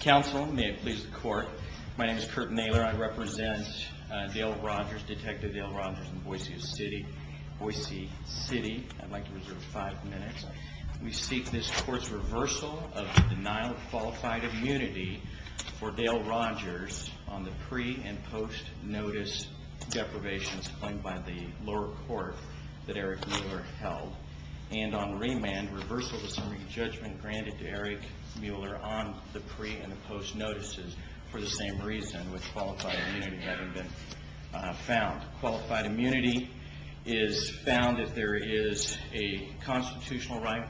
Council, may it please the court. My name is Curt Nailer. I represent Dale Rogers, Detective Dale Rogers in Boise City, Boise City. I'd like to reserve five minutes. We seek this court's reversal of the denial of qualified immunity for Dale Rogers on the pre- and post-notice deprivations claimed by the lower court that Eric Mueller held. And on remand, reversal of the summary judgment granted to Eric Mueller on the pre- and the post-notices for the same reason with qualified immunity having been found. Qualified immunity is found if there is a constitutional right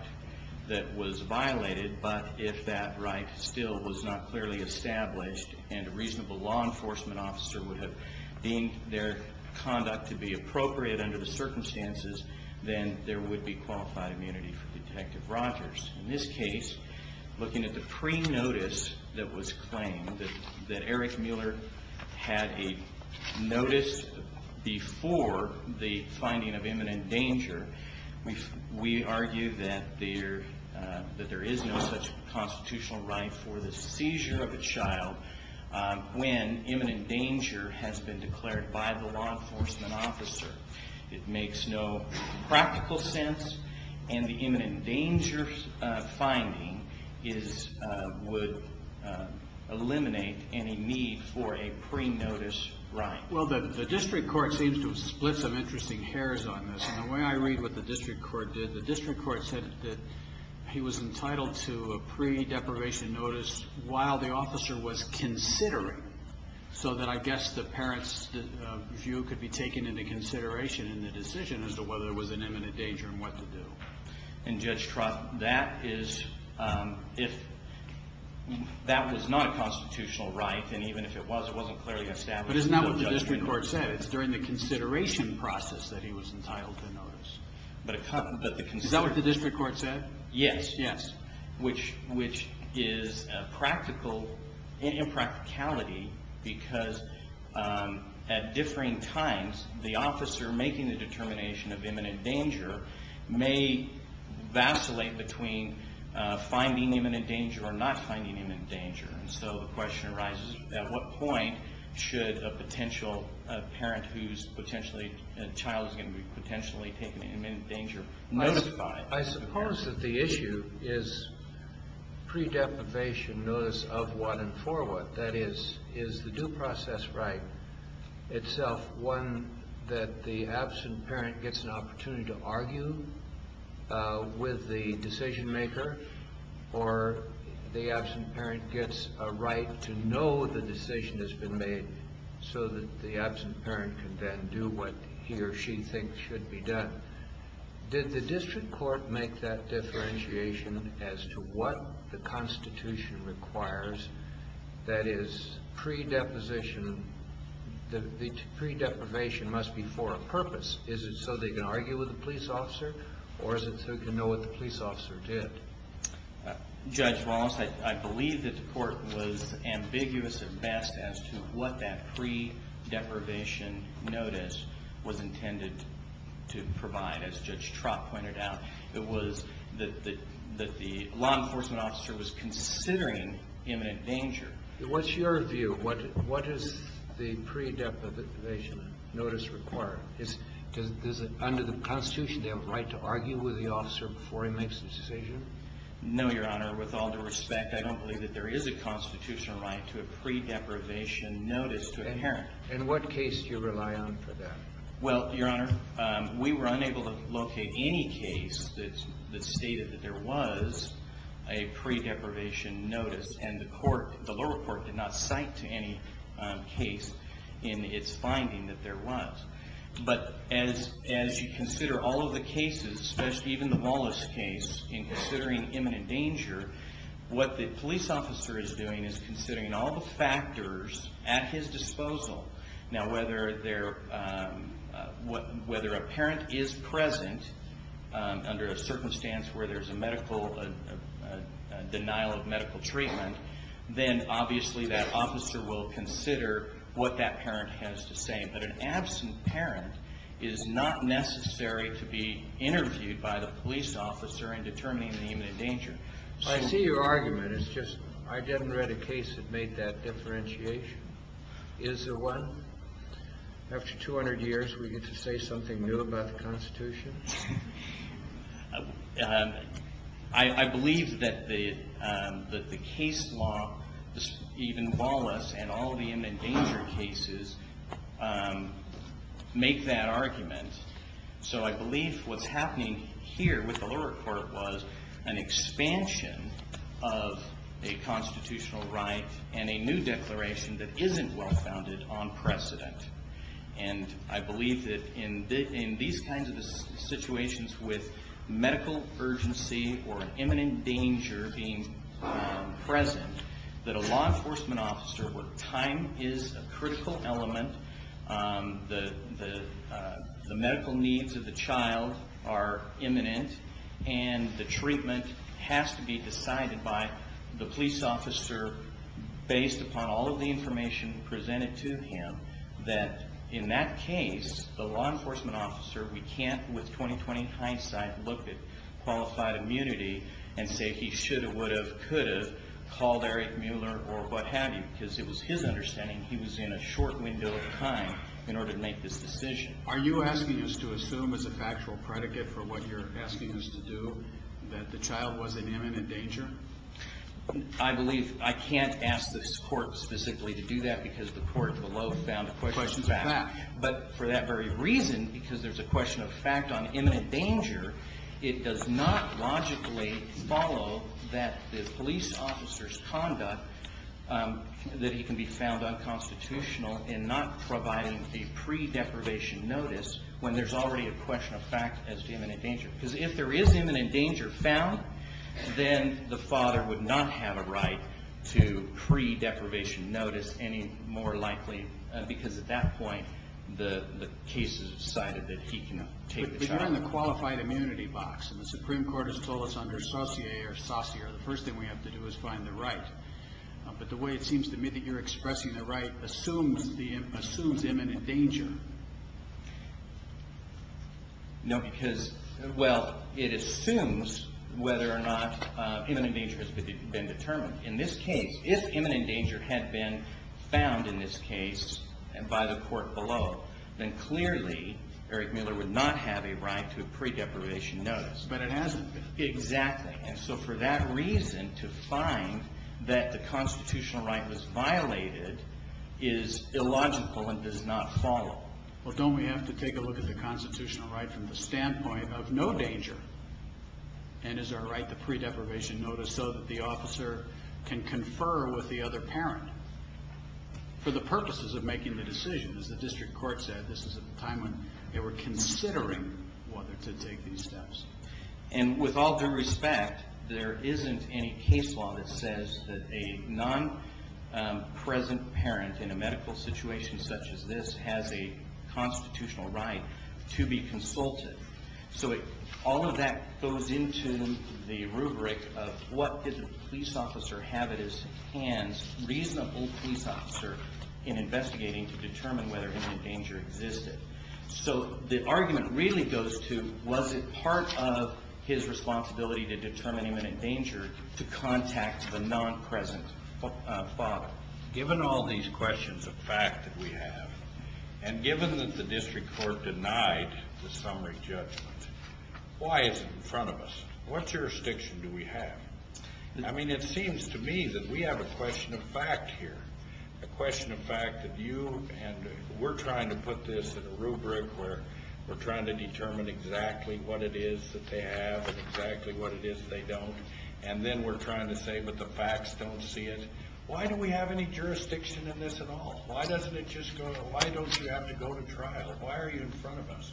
that was violated, but if that right still was not clearly established, and a reasonable law enforcement officer would have deemed their conduct to be appropriate under the circumstances, then there would be qualified immunity for Detective Rogers. In this case, looking at the pre-notice that was claimed, that Eric Mueller had a notice before the finding of imminent danger, we argue that there is no such constitutional right for the seizure of a child when imminent danger has been declared by the law enforcement officer. It makes no practical sense, and the imminent danger finding would eliminate any need for a pre-notice right. Well, the district court seems to have split some interesting hairs on this. And the way I read what the district court did, the district court said that he was entitled to a pre-deprivation notice while the officer was considering, so that I guess the parent's view could be taken into consideration in the decision as to whether there was an imminent danger and what to do. And Judge Trott, that was not a constitutional right, and even if it was, it wasn't clearly established. But isn't that what the district court said? It's during the consideration process that he was entitled to a notice. Is that what the district court said? Yes, yes, which is impracticality because at differing times, the officer making the determination of imminent danger may vacillate between finding imminent danger or not finding imminent danger. And so the question arises, at what point should a potential parent whose child is going to be potentially taken into imminent danger notify? I suppose that the issue is pre-deprivation notice of what and for what. That is, is the due process right itself one that the absent parent gets an opportunity to argue with the decision maker, or the absent parent gets a right to know the decision has been made so that the absent parent can then do what he or she thinks should be done? Did the district court make that differentiation as to what the Constitution requires? That is, pre-deposition, the pre-deprivation must be for a purpose. Is it so they can argue with the police officer, or is it so they can know what the police officer did? Judge Wallace, I believe that the court was ambiguous at best as to what that pre-deprivation notice was intended to provide. As Judge Trott pointed out, it was that the law enforcement officer was considering imminent danger. What's your view? What does the pre-deprivation notice require? Under the Constitution, they have a right to argue with the officer before he makes a decision? No, Your Honor. With all due respect, I don't believe that there is a Constitutional right to a pre-deprivation notice to a parent. In what case do you rely on for that? Well, Your Honor, we were unable to locate any case that stated that there was a pre-deprivation notice, and the lower court did not cite any case in its finding that there was. But as you consider all of the cases, especially even the Wallace case, in considering imminent danger, what the police officer is doing is considering all the factors at his disposal. Now, whether a parent is present under a circumstance where there's a denial of medical treatment, then obviously that officer will consider what that parent has to say. But an absent parent is not necessary to be interviewed by the police officer in determining the imminent danger. I see your argument. It's just I never read a case that made that differentiation. Is there one? After 200 years, we get to say something new about the Constitution? I believe that the case law, even Wallace and all the imminent danger cases, make that argument. So I believe what's happening here with the lower court was an expansion of a Constitutional right and a new declaration that isn't well-founded on precedent. And I believe that in these kinds of situations with medical urgency or imminent danger being present, that a law enforcement officer, where time is a critical element, the medical needs of the child are imminent, and the treatment has to be decided by the police officer based upon all of the information presented to him, that in that case, the law enforcement officer, we can't with 20-20 hindsight look at qualified immunity and say he should have, would have, could have called Eric Mueller or what have you, because it was his understanding he was in a short window of time in order to make this decision. Are you asking us to assume as a factual predicate for what you're asking us to do that the child was in imminent danger? I believe I can't ask this court specifically to do that because the court below found a question of fact. But for that very reason, because there's a question of fact on imminent danger, it does not logically follow that the police officer's conduct, that he can be found unconstitutional in not providing a pre-deprivation notice when there's already a question of fact as to imminent danger. Because if there is imminent danger found, then the father would not have a right to pre-deprivation notice any more likely, because at that point, the case is decided that he cannot take the child. But you're in the qualified immunity box, and the Supreme Court has told us under saucier or saucier, the first thing we have to do is find the right. But the way it seems to me that you're expressing the right assumes imminent danger. No, because, well, it assumes whether or not imminent danger has been determined. In this case, if imminent danger had been found in this case by the court below, then clearly Eric Miller would not have a right to a pre-deprivation notice. But it hasn't been. Exactly, and so for that reason, to find that the constitutional right was violated is illogical and does not follow. Well, don't we have to take a look at the constitutional right from the standpoint of no danger? And is there a right to pre-deprivation notice so that the officer can confer with the other parent? For the purposes of making the decision, as the district court said, this is a time when they were considering whether to take these steps. And with all due respect, there isn't any case law that says that a non-present parent in a medical situation such as this has a constitutional right to be consulted. So all of that goes into the rubric of what did the police officer have at his hands, reasonable police officer, in investigating to determine whether imminent danger existed. So the argument really goes to was it part of his responsibility to determine imminent danger to contact the non-present father? Given all these questions of fact that we have, and given that the district court denied the summary judgment, why is it in front of us? What jurisdiction do we have? I mean, it seems to me that we have a question of fact here, a question of fact that you and we're trying to put this in a rubric where we're trying to determine exactly what it is that they have and exactly what it is they don't. And then we're trying to say, but the facts don't see it. Why do we have any jurisdiction in this at all? Why doesn't it just go to, why don't you have to go to trial? Why are you in front of us?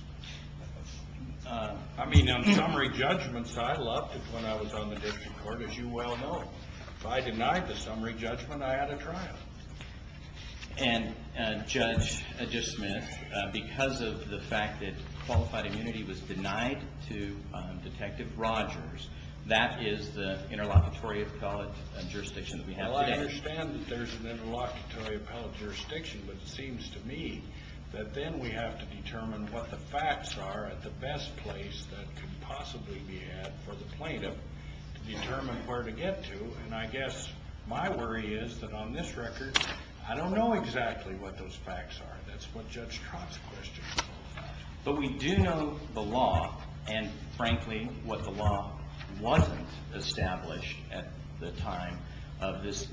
I mean, on summary judgments, I loved it when I was on the district court, as you well know. If I denied the summary judgment, I had a trial. And Judge Smith, because of the fact that qualified immunity was denied to Detective Rogers, that is the interlocutory appellate jurisdiction that we have today. Well, I understand that there's an interlocutory appellate jurisdiction, but it seems to me that then we have to determine what the facts are at the best place that could possibly be had for the plaintiff to determine where to get to. And I guess my worry is that on this record, I don't know exactly what those facts are. That's what Judge Trott's question was. But we do know the law and, frankly, what the law wasn't established at the time of this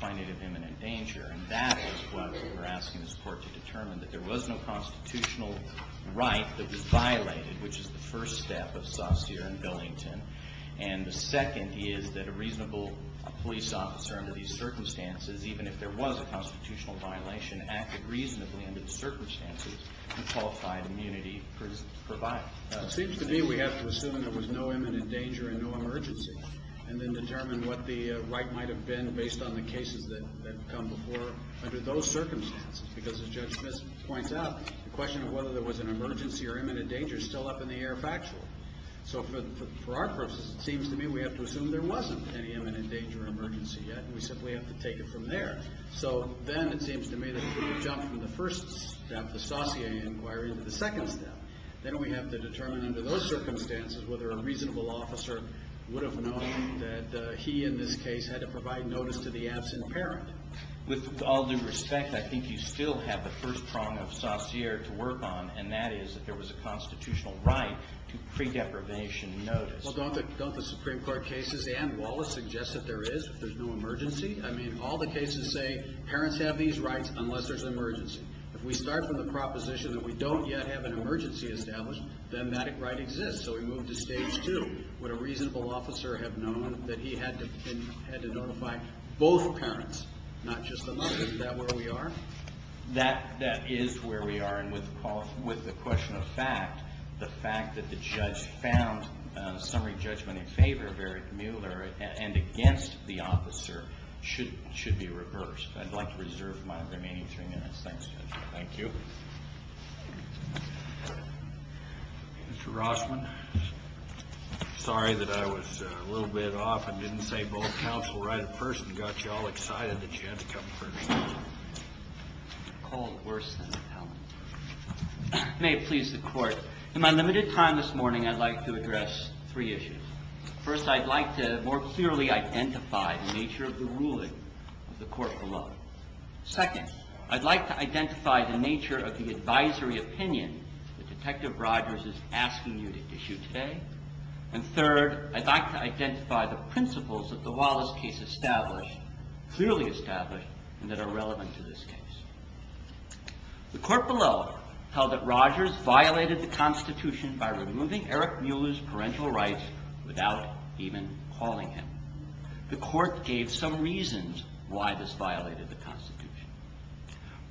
finding of imminent danger. And that is what we're asking this court to determine, that there was no constitutional right that was violated, which is the first step of Saussure and Billington. And the second is that a reasonable police officer under these circumstances, even if there was a constitutional violation, acted reasonably under the circumstances and qualified immunity provided. It seems to me we have to assume there was no imminent danger and no emergency and then determine what the right might have been based on the cases that come before under those circumstances. Because, as Judge Smith points out, the question of whether there was an emergency or imminent danger is still up in the air factual. So for our purposes, it seems to me we have to assume there wasn't any imminent danger or emergency yet, and we simply have to take it from there. So then it seems to me that we jump from the first step, the Saussure inquiry, to the second step. Then we have to determine under those circumstances whether a reasonable officer would have known that he, in this case, had to provide notice to the absent parent. With all due respect, I think you still have the first prong of Saussure to work on, and that is that there was a constitutional right to pre-deprivation notice. Well, don't the Supreme Court cases and Wallace suggest that there is, that there's no emergency? I mean, all the cases say parents have these rights unless there's an emergency. If we start from the proposition that we don't yet have an emergency established, then that right exists. So we move to stage two. Would a reasonable officer have known that he had to notify both parents, not just the mother? Is that where we are? That is where we are, and with the question of fact, the fact that the judge found summary judgment in favor of Eric Mueller and against the officer should be reversed. I'd like to reserve my remaining three minutes. Thanks, Judge. Thank you. Mr. Rossman, sorry that I was a little bit off and didn't say both counts were right at first and got you all excited that you had to come first. I called worse than a talent. May it please the Court. In my limited time this morning, I'd like to address three issues. First, I'd like to more clearly identify the nature of the ruling of the court below. Second, I'd like to identify the nature of the advisory opinion that Detective Rogers is asking you to issue today. And third, I'd like to identify the principles of the Wallace case established, clearly established, and that are relevant to this case. The court below held that Rogers violated the Constitution by removing Eric Mueller's parental rights without even calling him. The court gave some reasons why this violated the Constitution.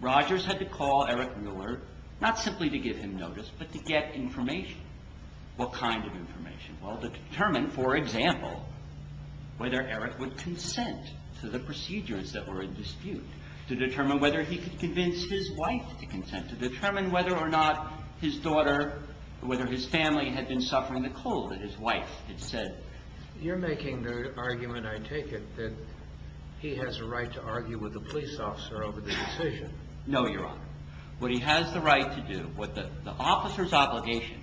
Rogers had to call Eric Mueller, not simply to give him notice, but to get information. What kind of information? Well, to determine, for example, whether Eric would consent to the procedures that were in dispute, to determine whether he could convince his wife to consent, to determine whether or not his daughter, whether his family had been suffering the cold that his wife had said. You're making the argument, I take it, that he has a right to argue with the police officer over the decision. No, Your Honor. What he has the right to do, the officer's obligation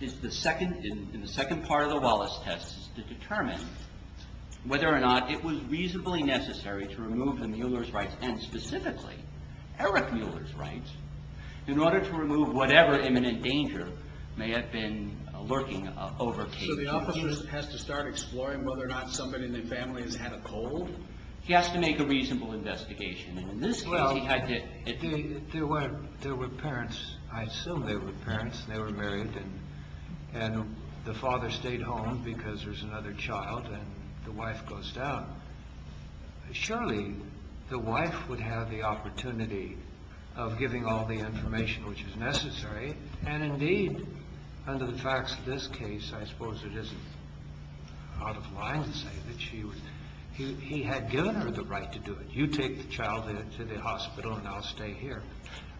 in the second part of the Wallace test is to determine whether or not it was reasonably necessary to remove the Mueller's rights, and specifically Eric Mueller's rights, in order to remove whatever imminent danger may have been lurking over Katie. So the officer has to start exploring whether or not somebody in the family has had a cold? He has to make a reasonable investigation. Well, there were parents. I assume they were parents. They were married, and the father stayed home because there's another child, and the wife goes down. Surely the wife would have the opportunity of giving all the information which is necessary, and indeed, under the facts of this case, I suppose it isn't out of line to say that she would. He had given her the right to do it. You take the child to the hospital, and I'll stay here.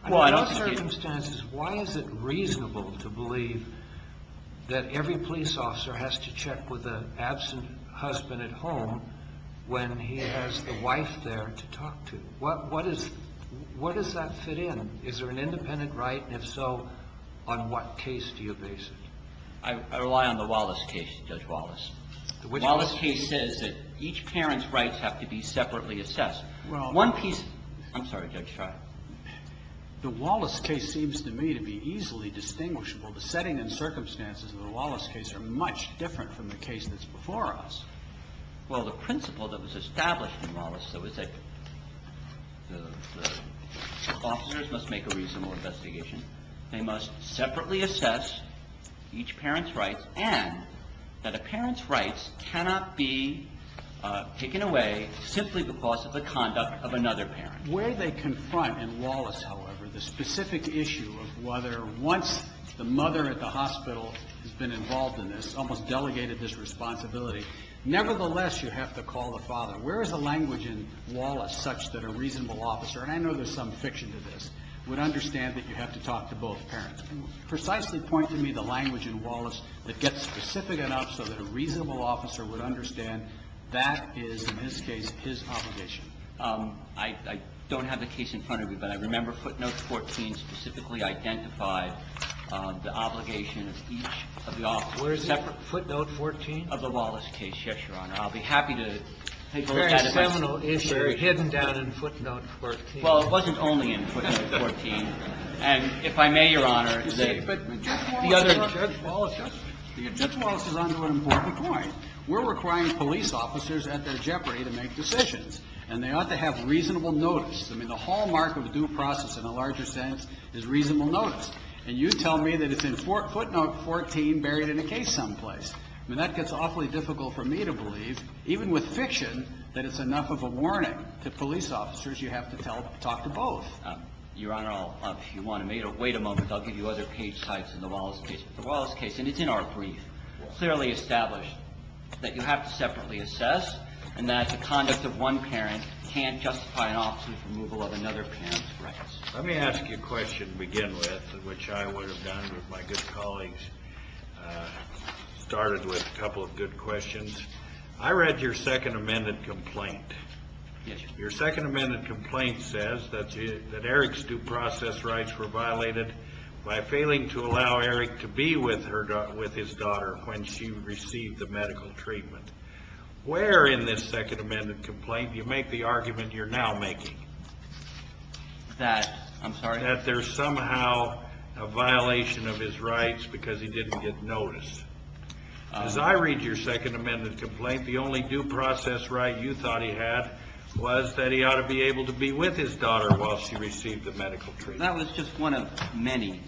Under those circumstances, why is it reasonable to believe that every police officer has to check with an absent husband at home when he has the wife there to talk to? Where does that fit in? Is there an independent right, and if so, on what case do you base it? I rely on the Wallace case, Judge Wallace. Wallace case says that each parent's rights have to be separately assessed. One piece of the case. I'm sorry, Judge Schreier. The Wallace case seems to me to be easily distinguishable. The setting and circumstances of the Wallace case are much different from the case that's before us. Well, the principle that was established in Wallace was that the officers must make a reasonable investigation. They must separately assess each parent's rights and that a parent's rights cannot be taken away simply because of the conduct of another parent. Where they confront in Wallace, however, the specific issue of whether once the mother at the hospital has been involved in this, almost delegated this responsibility, nevertheless you have to call the father. Where is the language in Wallace such that a reasonable officer, and I know there's some fiction to this, would understand that you have to talk to both parents? Precisely point to me the language in Wallace that gets specific enough so that a reasonable officer would understand that is, in this case, his obligation. I don't have the case in front of me, but I remember footnote 14 specifically identified the obligation of each of the officers. Where is it, footnote 14? Of the Wallace case, yes, Your Honor. I'll be happy to look at it. It's a very seminal issue hidden down in footnote 14. Well, it wasn't only in footnote 14. And if I may, Your Honor, the other – Judge Wallace is on to an important point. We're requiring police officers at their jeopardy to make decisions, and they ought to have reasonable notice. I mean, the hallmark of due process in a larger sense is reasonable notice. And you tell me that it's in footnote 14 buried in a case someplace. I mean, that gets awfully difficult for me to believe, even with fiction, that it's enough of a warning to police officers, you have to tell – talk to both. Your Honor, if you want me to wait a moment, I'll give you other page types in the Wallace case. But the Wallace case, and it's in our brief, clearly established that you have to separately assess and that the conduct of one parent can't justify an officer's removal of another parent's rights. Let me ask you a question to begin with, which I would have done with my good colleagues, started with a couple of good questions. I read your Second Amendment complaint. Your Second Amendment complaint says that Eric's due process rights were violated by failing to allow Eric to be with his daughter when she received the medical treatment. Where in this Second Amendment complaint do you make the argument you're now making? That – I'm sorry? That there's somehow a violation of his rights because he didn't get notice. As I read your Second Amendment complaint, the only due process right you thought he had was that he ought to be able to be with his daughter while she received the medical treatment. That was just one of many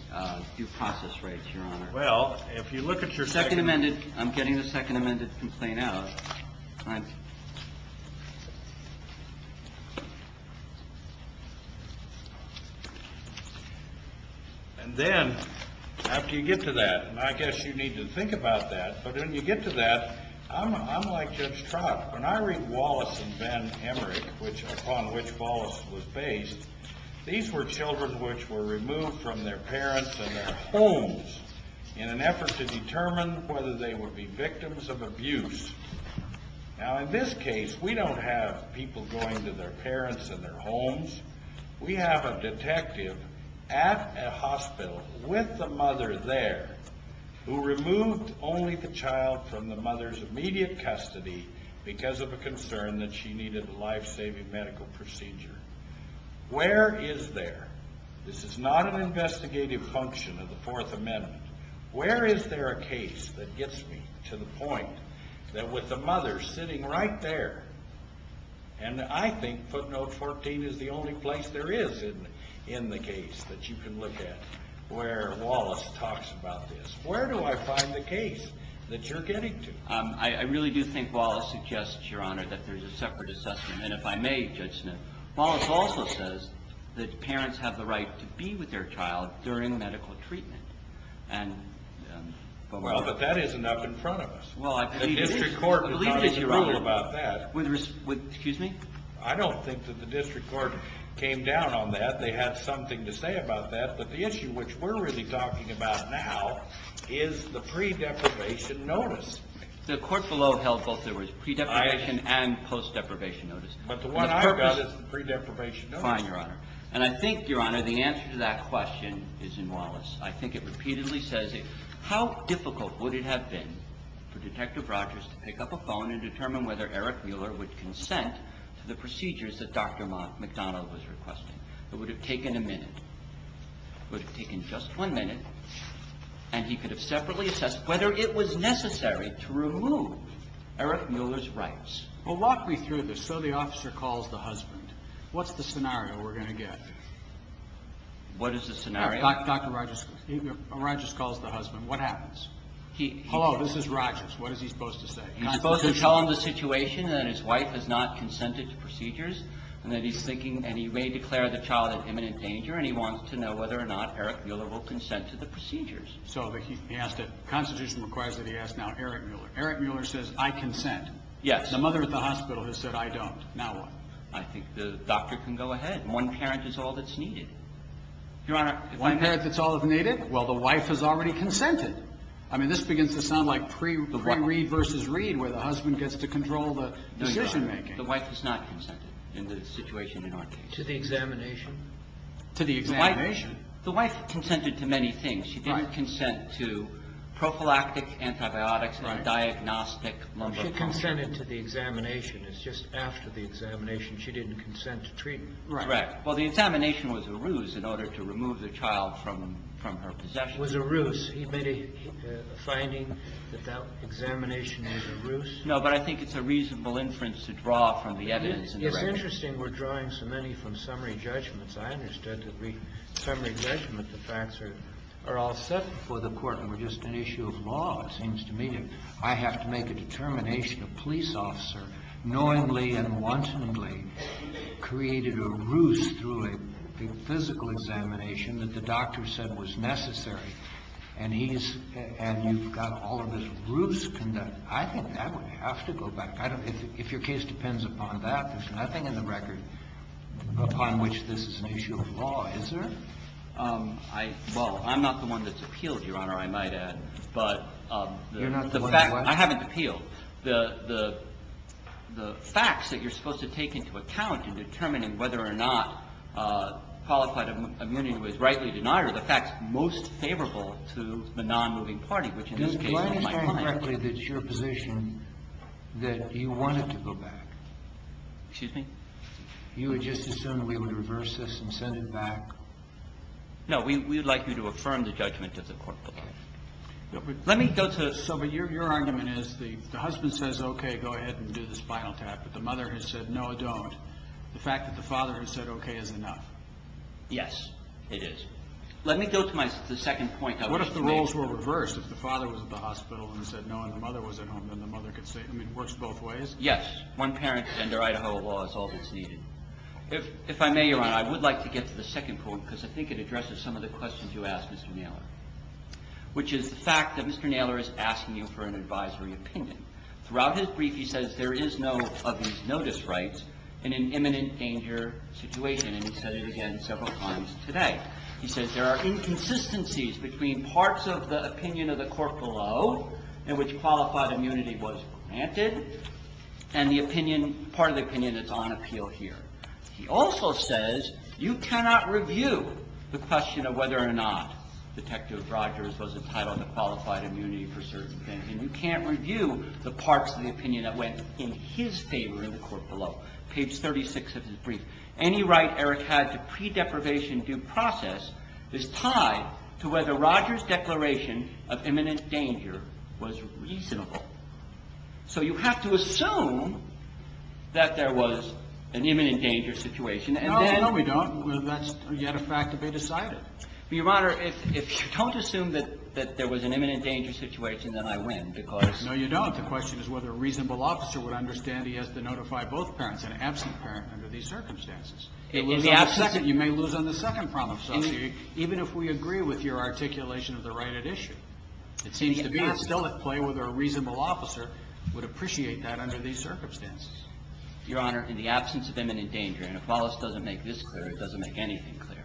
due process rights, Your Honor. Well, if you look at your Second – Second Amendment – I'm getting the Second Amendment complaint out. Thank you. And then, after you get to that, and I guess you need to think about that, but when you get to that, I'm like Judge Trout. When I read Wallace and Ben Emmerich, upon which Wallace was based, these were children which were removed from their parents and their homes in an effort to determine whether they would be victims of abuse. Now, in this case, we don't have people going to their parents and their homes. We have a detective at a hospital with the mother there who removed only the child from the mother's immediate custody because of a concern that she needed a life-saving medical procedure. Where is there – this is not an investigative function of the Fourth Amendment – where is there a case that gets me to the point that with the mother sitting right there – and I think footnote 14 is the only place there is in the case that you can look at where Wallace talks about this – where do I find the case that you're getting to? I really do think Wallace suggests, Your Honor, that there's a separate assessment, and if I may, Judge Smith, Wallace also says that parents have the right to be with their child during medical treatment. And – Well, but that isn't up in front of us. Well, I believe it is. The district court has not issued a rule about that. Excuse me? I don't think that the district court came down on that. They had something to say about that. But the issue which we're really talking about now is the pre-deprivation notice. The court below held both the words pre-deprivation and post-deprivation notice. But the one I've got is the pre-deprivation notice. Fine, Your Honor. And I think, Your Honor, the answer to that question is in Wallace. I think it repeatedly says it. How difficult would it have been for Detective Rogers to pick up a phone and determine whether Eric Mueller would consent to the procedures that Dr. McDonald was requesting? It would have taken a minute. It would have taken just one minute, and he could have separately assessed whether it was necessary to remove Eric Mueller's rights. Well, walk me through this. So the officer calls the husband. What's the scenario we're going to get? What is the scenario? Dr. Rogers calls the husband. What happens? Hello, this is Rogers. What is he supposed to say? He's supposed to tell him the situation and that his wife has not consented to procedures and that he's thinking and he may declare the child an imminent danger and he wants to know whether or not Eric Mueller will consent to the procedures. So he asked if constitution requires that he ask now Eric Mueller. Eric Mueller says, I consent. Yes. The mother at the hospital has said, I don't. Now what? I think the doctor can go ahead. One parent is all that's needed. Your Honor, one parent is all that's needed? Well, the wife has already consented. I mean, this begins to sound like pre-Reed v. Reed where the husband gets to control the decision-making. No, Your Honor. The wife has not consented in the situation in our case. To the examination? To the examination. The wife consented to many things. She didn't consent to prophylactic antibiotics or a diagnostic. She consented to the examination. It's just after the examination she didn't consent to treatment. Right. Well, the examination was a ruse in order to remove the child from her possession. That was a ruse. He made a finding that that examination was a ruse. No, but I think it's a reasonable inference to draw from the evidence. It's interesting we're drawing so many from summary judgments. I understand that summary judgment, the facts are all set before the Court and were just an issue of law. It seems to me that I have to make a determination. A police officer knowingly and wantonly created a ruse through a physical examination that the doctor said was necessary, and he's – and you've got all of this ruse conduct. I think that would have to go back. I don't – if your case depends upon that, there's nothing in the record upon which this is an issue of law, is there? I – well, I'm not the one that's appealed, Your Honor, I might add. You're not the one that's what? I haven't appealed. The facts that you're supposed to take into account in determining whether or not qualified immunity was rightly denied are the facts most favorable to the nonmoving party, which in this case is my client. Do I understand correctly that it's your position that you want it to go back? Excuse me? You would just assume that we would reverse this and send it back? No, we would like you to affirm the judgment of the court. Let me go to – So, but your argument is the husband says, okay, go ahead and do the spinal tap, but the mother has said, no, don't. The fact that the father has said okay is enough. Yes, it is. Let me go to my – the second point. What if the roles were reversed? If the father was at the hospital and said no, and the mother was at home, then the mother could say – I mean, it works both ways? Yes. One parent and their Idaho law is all that's needed. If I may, Your Honor, I would like to get to the second point, because I think it addresses some of the questions you asked Mr. Naylor, which is the fact that Mr. Naylor is asking you for an advisory opinion. Throughout his brief, he says there is no of these notice rights in an imminent danger situation, and he said it again several times today. He says there are inconsistencies between parts of the opinion of the court below in which qualified immunity was granted and the opinion – part of the opinion that's on appeal here. He also says you cannot review the question of whether or not Detective Rogers was entitled to qualified immunity for certain things, and you can't review the parts of the opinion that went in his favor in the court below. Page 36 of his brief. Any right Eric had to pre-deprivation due process is tied to whether Rogers' declaration of imminent danger was reasonable. So you have to assume that there was an imminent danger situation, and then – No, no, we don't. That's yet a fact that they decided. Your Honor, if you don't assume that there was an imminent danger situation, then I win, because – No, you don't. The question is whether a reasonable officer would understand he has to notify both parents, an absent parent under these circumstances. In the absence – You may lose on the second problem, even if we agree with your articulation of the right at issue. It seems to be still at play whether a reasonable officer would appreciate that under these circumstances. Your Honor, in the absence of imminent danger, and if Wallace doesn't make this clear, it doesn't make anything clear.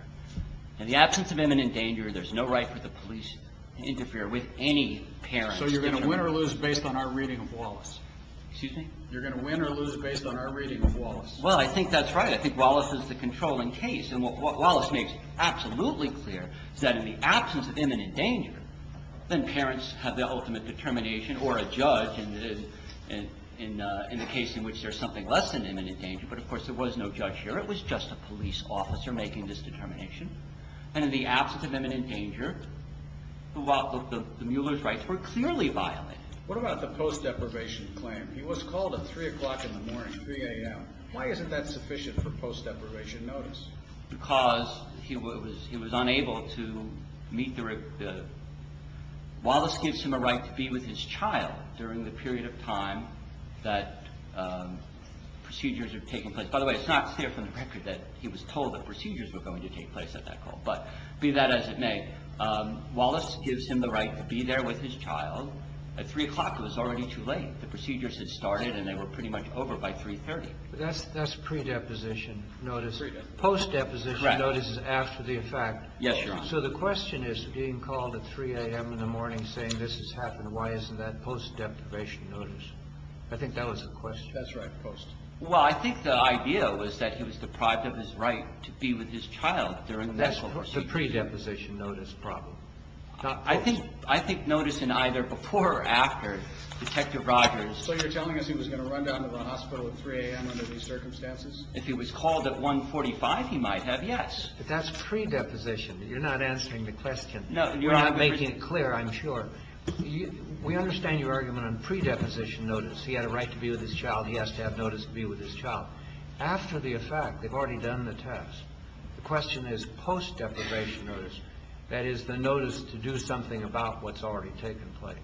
In the absence of imminent danger, there's no right for the police to interfere with any parent. So you're going to win or lose based on our reading of Wallace. Excuse me? You're going to win or lose based on our reading of Wallace. Well, I think that's right. I think Wallace is the controlling case. And what Wallace makes absolutely clear is that in the absence of imminent danger, then parents have their ultimate determination or a judge in the case in which there's something less than imminent danger. But, of course, there was no judge here. It was just a police officer making this determination. And in the absence of imminent danger, the Mueller's rights were clearly violated. What about the post-deprivation claim? He was called at 3 o'clock in the morning, 3 a.m. Why isn't that sufficient for post-deprivation notice? Because he was unable to meet the right. Wallace gives him a right to be with his child during the period of time that procedures are taking place. By the way, it's not clear from the record that he was told that procedures were going to take place at that call. But be that as it may, Wallace gives him the right to be there with his child at 3 o'clock. It was already too late. The procedures had started, and they were pretty much over by 3.30. But that's pre-deposition notice. Post-deposition notice is after the fact. Yes, Your Honor. So the question is, being called at 3 a.m. in the morning saying this has happened, why isn't that post-deprivation notice? I think that was the question. That's right, post. Well, I think the idea was that he was deprived of his right to be with his child during the medical procedure. That's the pre-deposition notice problem, not post. I think notice in either before or after, Detective Rogers. So you're telling us he was going to run down to the hospital at 3 a.m. under these circumstances? If he was called at 1.45, he might have, yes. But that's pre-deposition. You're not answering the question. We're not making it clear, I'm sure. We understand your argument on pre-deposition notice. He had a right to be with his child. He has to have notice to be with his child. After the effect, they've already done the test. The question is post-deprivation notice. That is, the notice to do something about what's already taken place.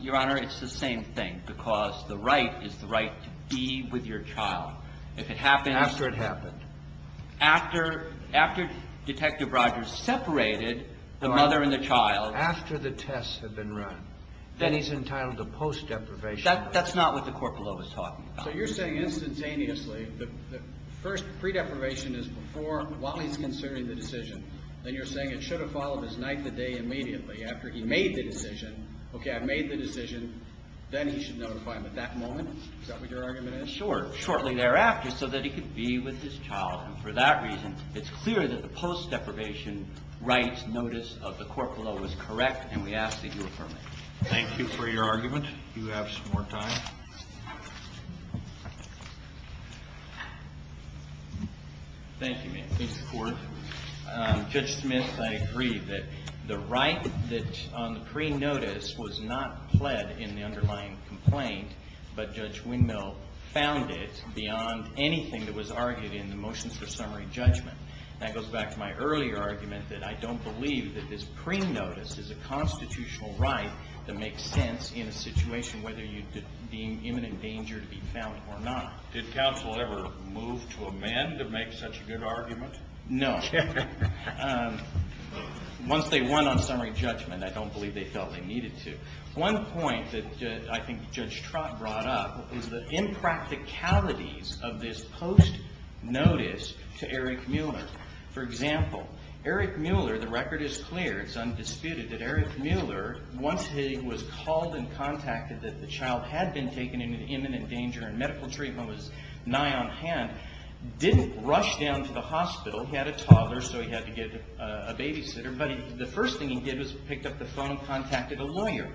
Your Honor, it's the same thing. Because the right is the right to be with your child. If it happens. After it happened. After Detective Rogers separated the mother and the child. After the tests have been run. Then he's entitled to post-deprivation. That's not what the court below is talking about. So you're saying instantaneously, the first pre-deprivation is before while he's considering the decision. Then you're saying it should have followed his night to day immediately after he made the decision. Okay, I've made the decision. Then he should notify him at that moment. Is that what your argument is? Sure. Shortly thereafter so that he could be with his child. And for that reason, it's clear that the post-deprivation rights notice of the court below is correct. And we ask that you affirm it. Thank you for your argument. You have some more time. Thank you, Mr. Court. Judge Smith, I agree that the right on the pre-notice was not pled in the underlying complaint. But Judge Windmill found it beyond anything that was argued in the motions for summary judgment. That goes back to my earlier argument that I don't believe that this pre-notice is a constitutional right that makes sense in a situation whether you deem imminent danger to be found or not. Did counsel ever move to amend to make such a good argument? No. Once they won on summary judgment, I don't believe they felt they needed to. One point that I think Judge Trott brought up is the impracticalities of this post-notice to Eric Mueller. For example, Eric Mueller, the record is clear. It's undisputed that Eric Mueller, once he was called and contacted that the child had been taken into imminent danger and medical treatment was nigh on hand, didn't rush down to the hospital. He had a toddler, so he had to get a babysitter. But the first thing he did was picked up the phone and contacted a lawyer.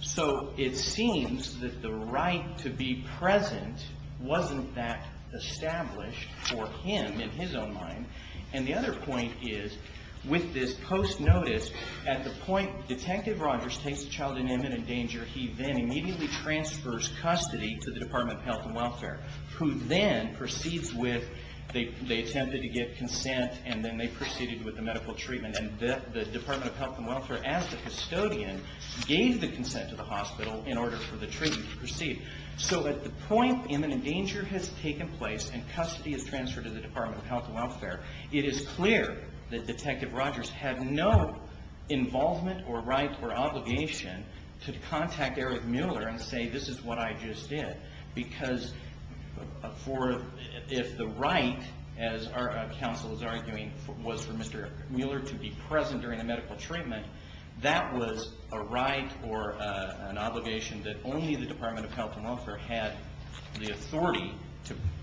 So it seems that the right to be present wasn't that established for him in his own mind. And the other point is with this post-notice, at the point Detective Rogers takes the child in imminent danger, he then immediately transfers custody to the Department of Health and Welfare, who then proceeds with they attempted to get consent, and then they proceeded with the medical treatment. And then the Department of Health and Welfare, as the custodian, gave the consent to the hospital in order for the treatment to proceed. So at the point imminent danger has taken place and custody is transferred to the Department of Health and Welfare, it is clear that Detective Rogers had no involvement or right or obligation to contact Eric Mueller and say, this is what I just did. Because if the right, as our counsel is arguing, was for Mr. Mueller to be present during the medical treatment, that was a right or an obligation that only the Department of Health and Welfare had the authority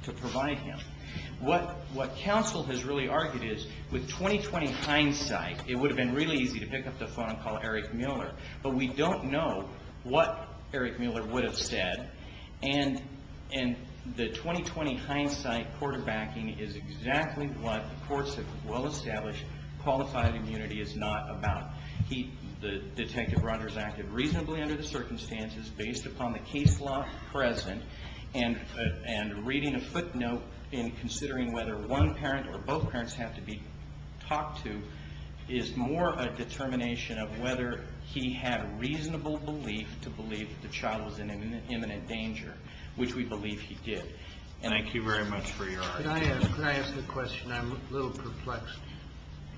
to provide him. What counsel has really argued is, with 20-20 hindsight, it would have been really easy to pick up the phone and call Eric Mueller. But we don't know what Eric Mueller would have said, and the 20-20 hindsight quarterbacking is exactly what the courts have well established qualified immunity is not about. Detective Rogers acted reasonably under the circumstances based upon the case law present, and reading a footnote and considering whether one parent or both parents have to be talked to is more a determination of whether he had reasonable belief to believe the child was in imminent danger, which we believe he did. And I thank you very much for your argument. Can I ask a question? I'm a little perplexed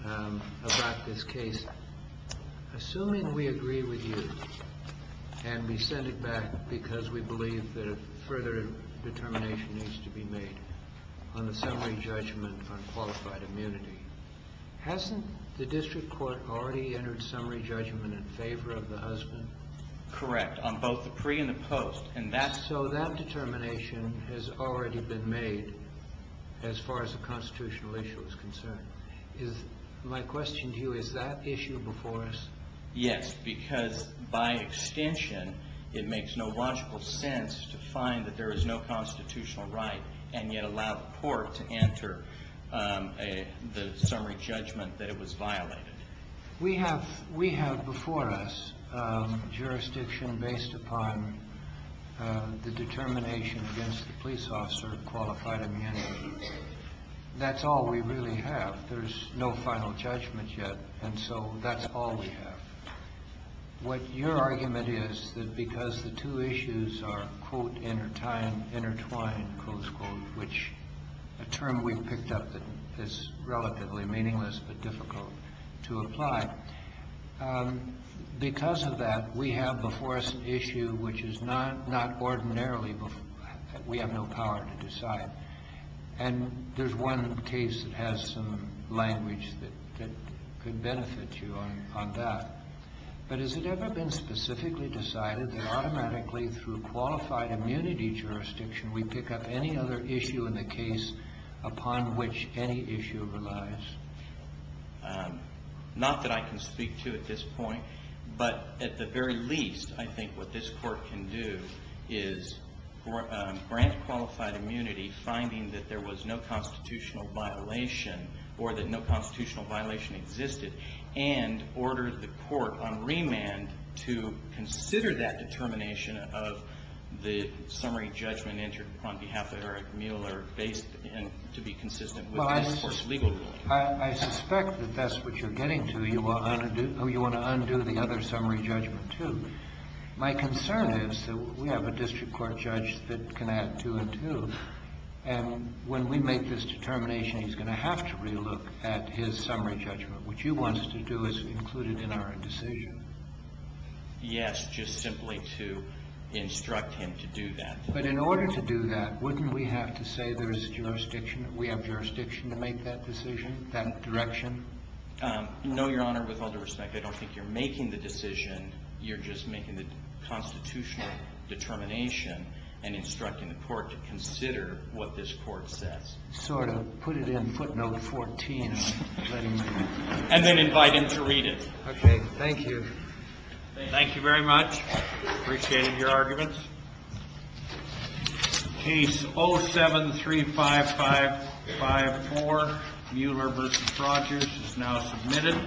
about this case. Assuming we agree with you and we send it back because we believe that a further determination needs to be made on the summary judgment on qualified immunity, hasn't the district court already entered summary judgment in favor of the husband? Correct, on both the pre and the post. So that determination has already been made as far as the constitutional issue is concerned. My question to you, is that issue before us? Yes, because by extension it makes no logical sense to find that there is no constitutional right and yet allow the court to enter the summary judgment that it was violated. We have before us jurisdiction based upon the determination against the police officer of qualified immunity. That's all we really have. There's no final judgment yet. And so that's all we have. What your argument is that because the two issues are, quote, intertwined, close quote, which a term we've picked up that is relatively meaningless but difficult to apply. Because of that, we have before us an issue which is not ordinarily we have no power to decide. And there's one case that has some language that could benefit you on that. But has it ever been specifically decided that automatically through qualified immunity jurisdiction we pick up any other issue in the case upon which any issue relies? Not that I can speak to at this point. But at the very least, I think what this court can do is grant qualified immunity, finding that there was no constitutional violation or that no constitutional violation existed, and order the court on remand to consider that determination of the summary judgment entered on behalf of Eric Mueller based to be consistent with this court's legal ruling. I suspect that that's what you're getting to. You want to undo the other summary judgment, too. My concern is that we have a district court judge that can add two and two. And when we make this determination, he's going to have to relook at his summary judgment. What you want us to do is include it in our decision. Yes, just simply to instruct him to do that. But in order to do that, wouldn't we have to say there is jurisdiction, we have jurisdiction to make that decision, that direction? No, Your Honor. With all due respect, I don't think you're making the decision. You're just making the constitutional determination and instructing the court to consider what this court says. Sort of. Put it in footnote 14. And then invite him to read it. Thank you. Thank you very much. Appreciate your arguments. Case 0735554, Mueller v. Rogers is now submitted.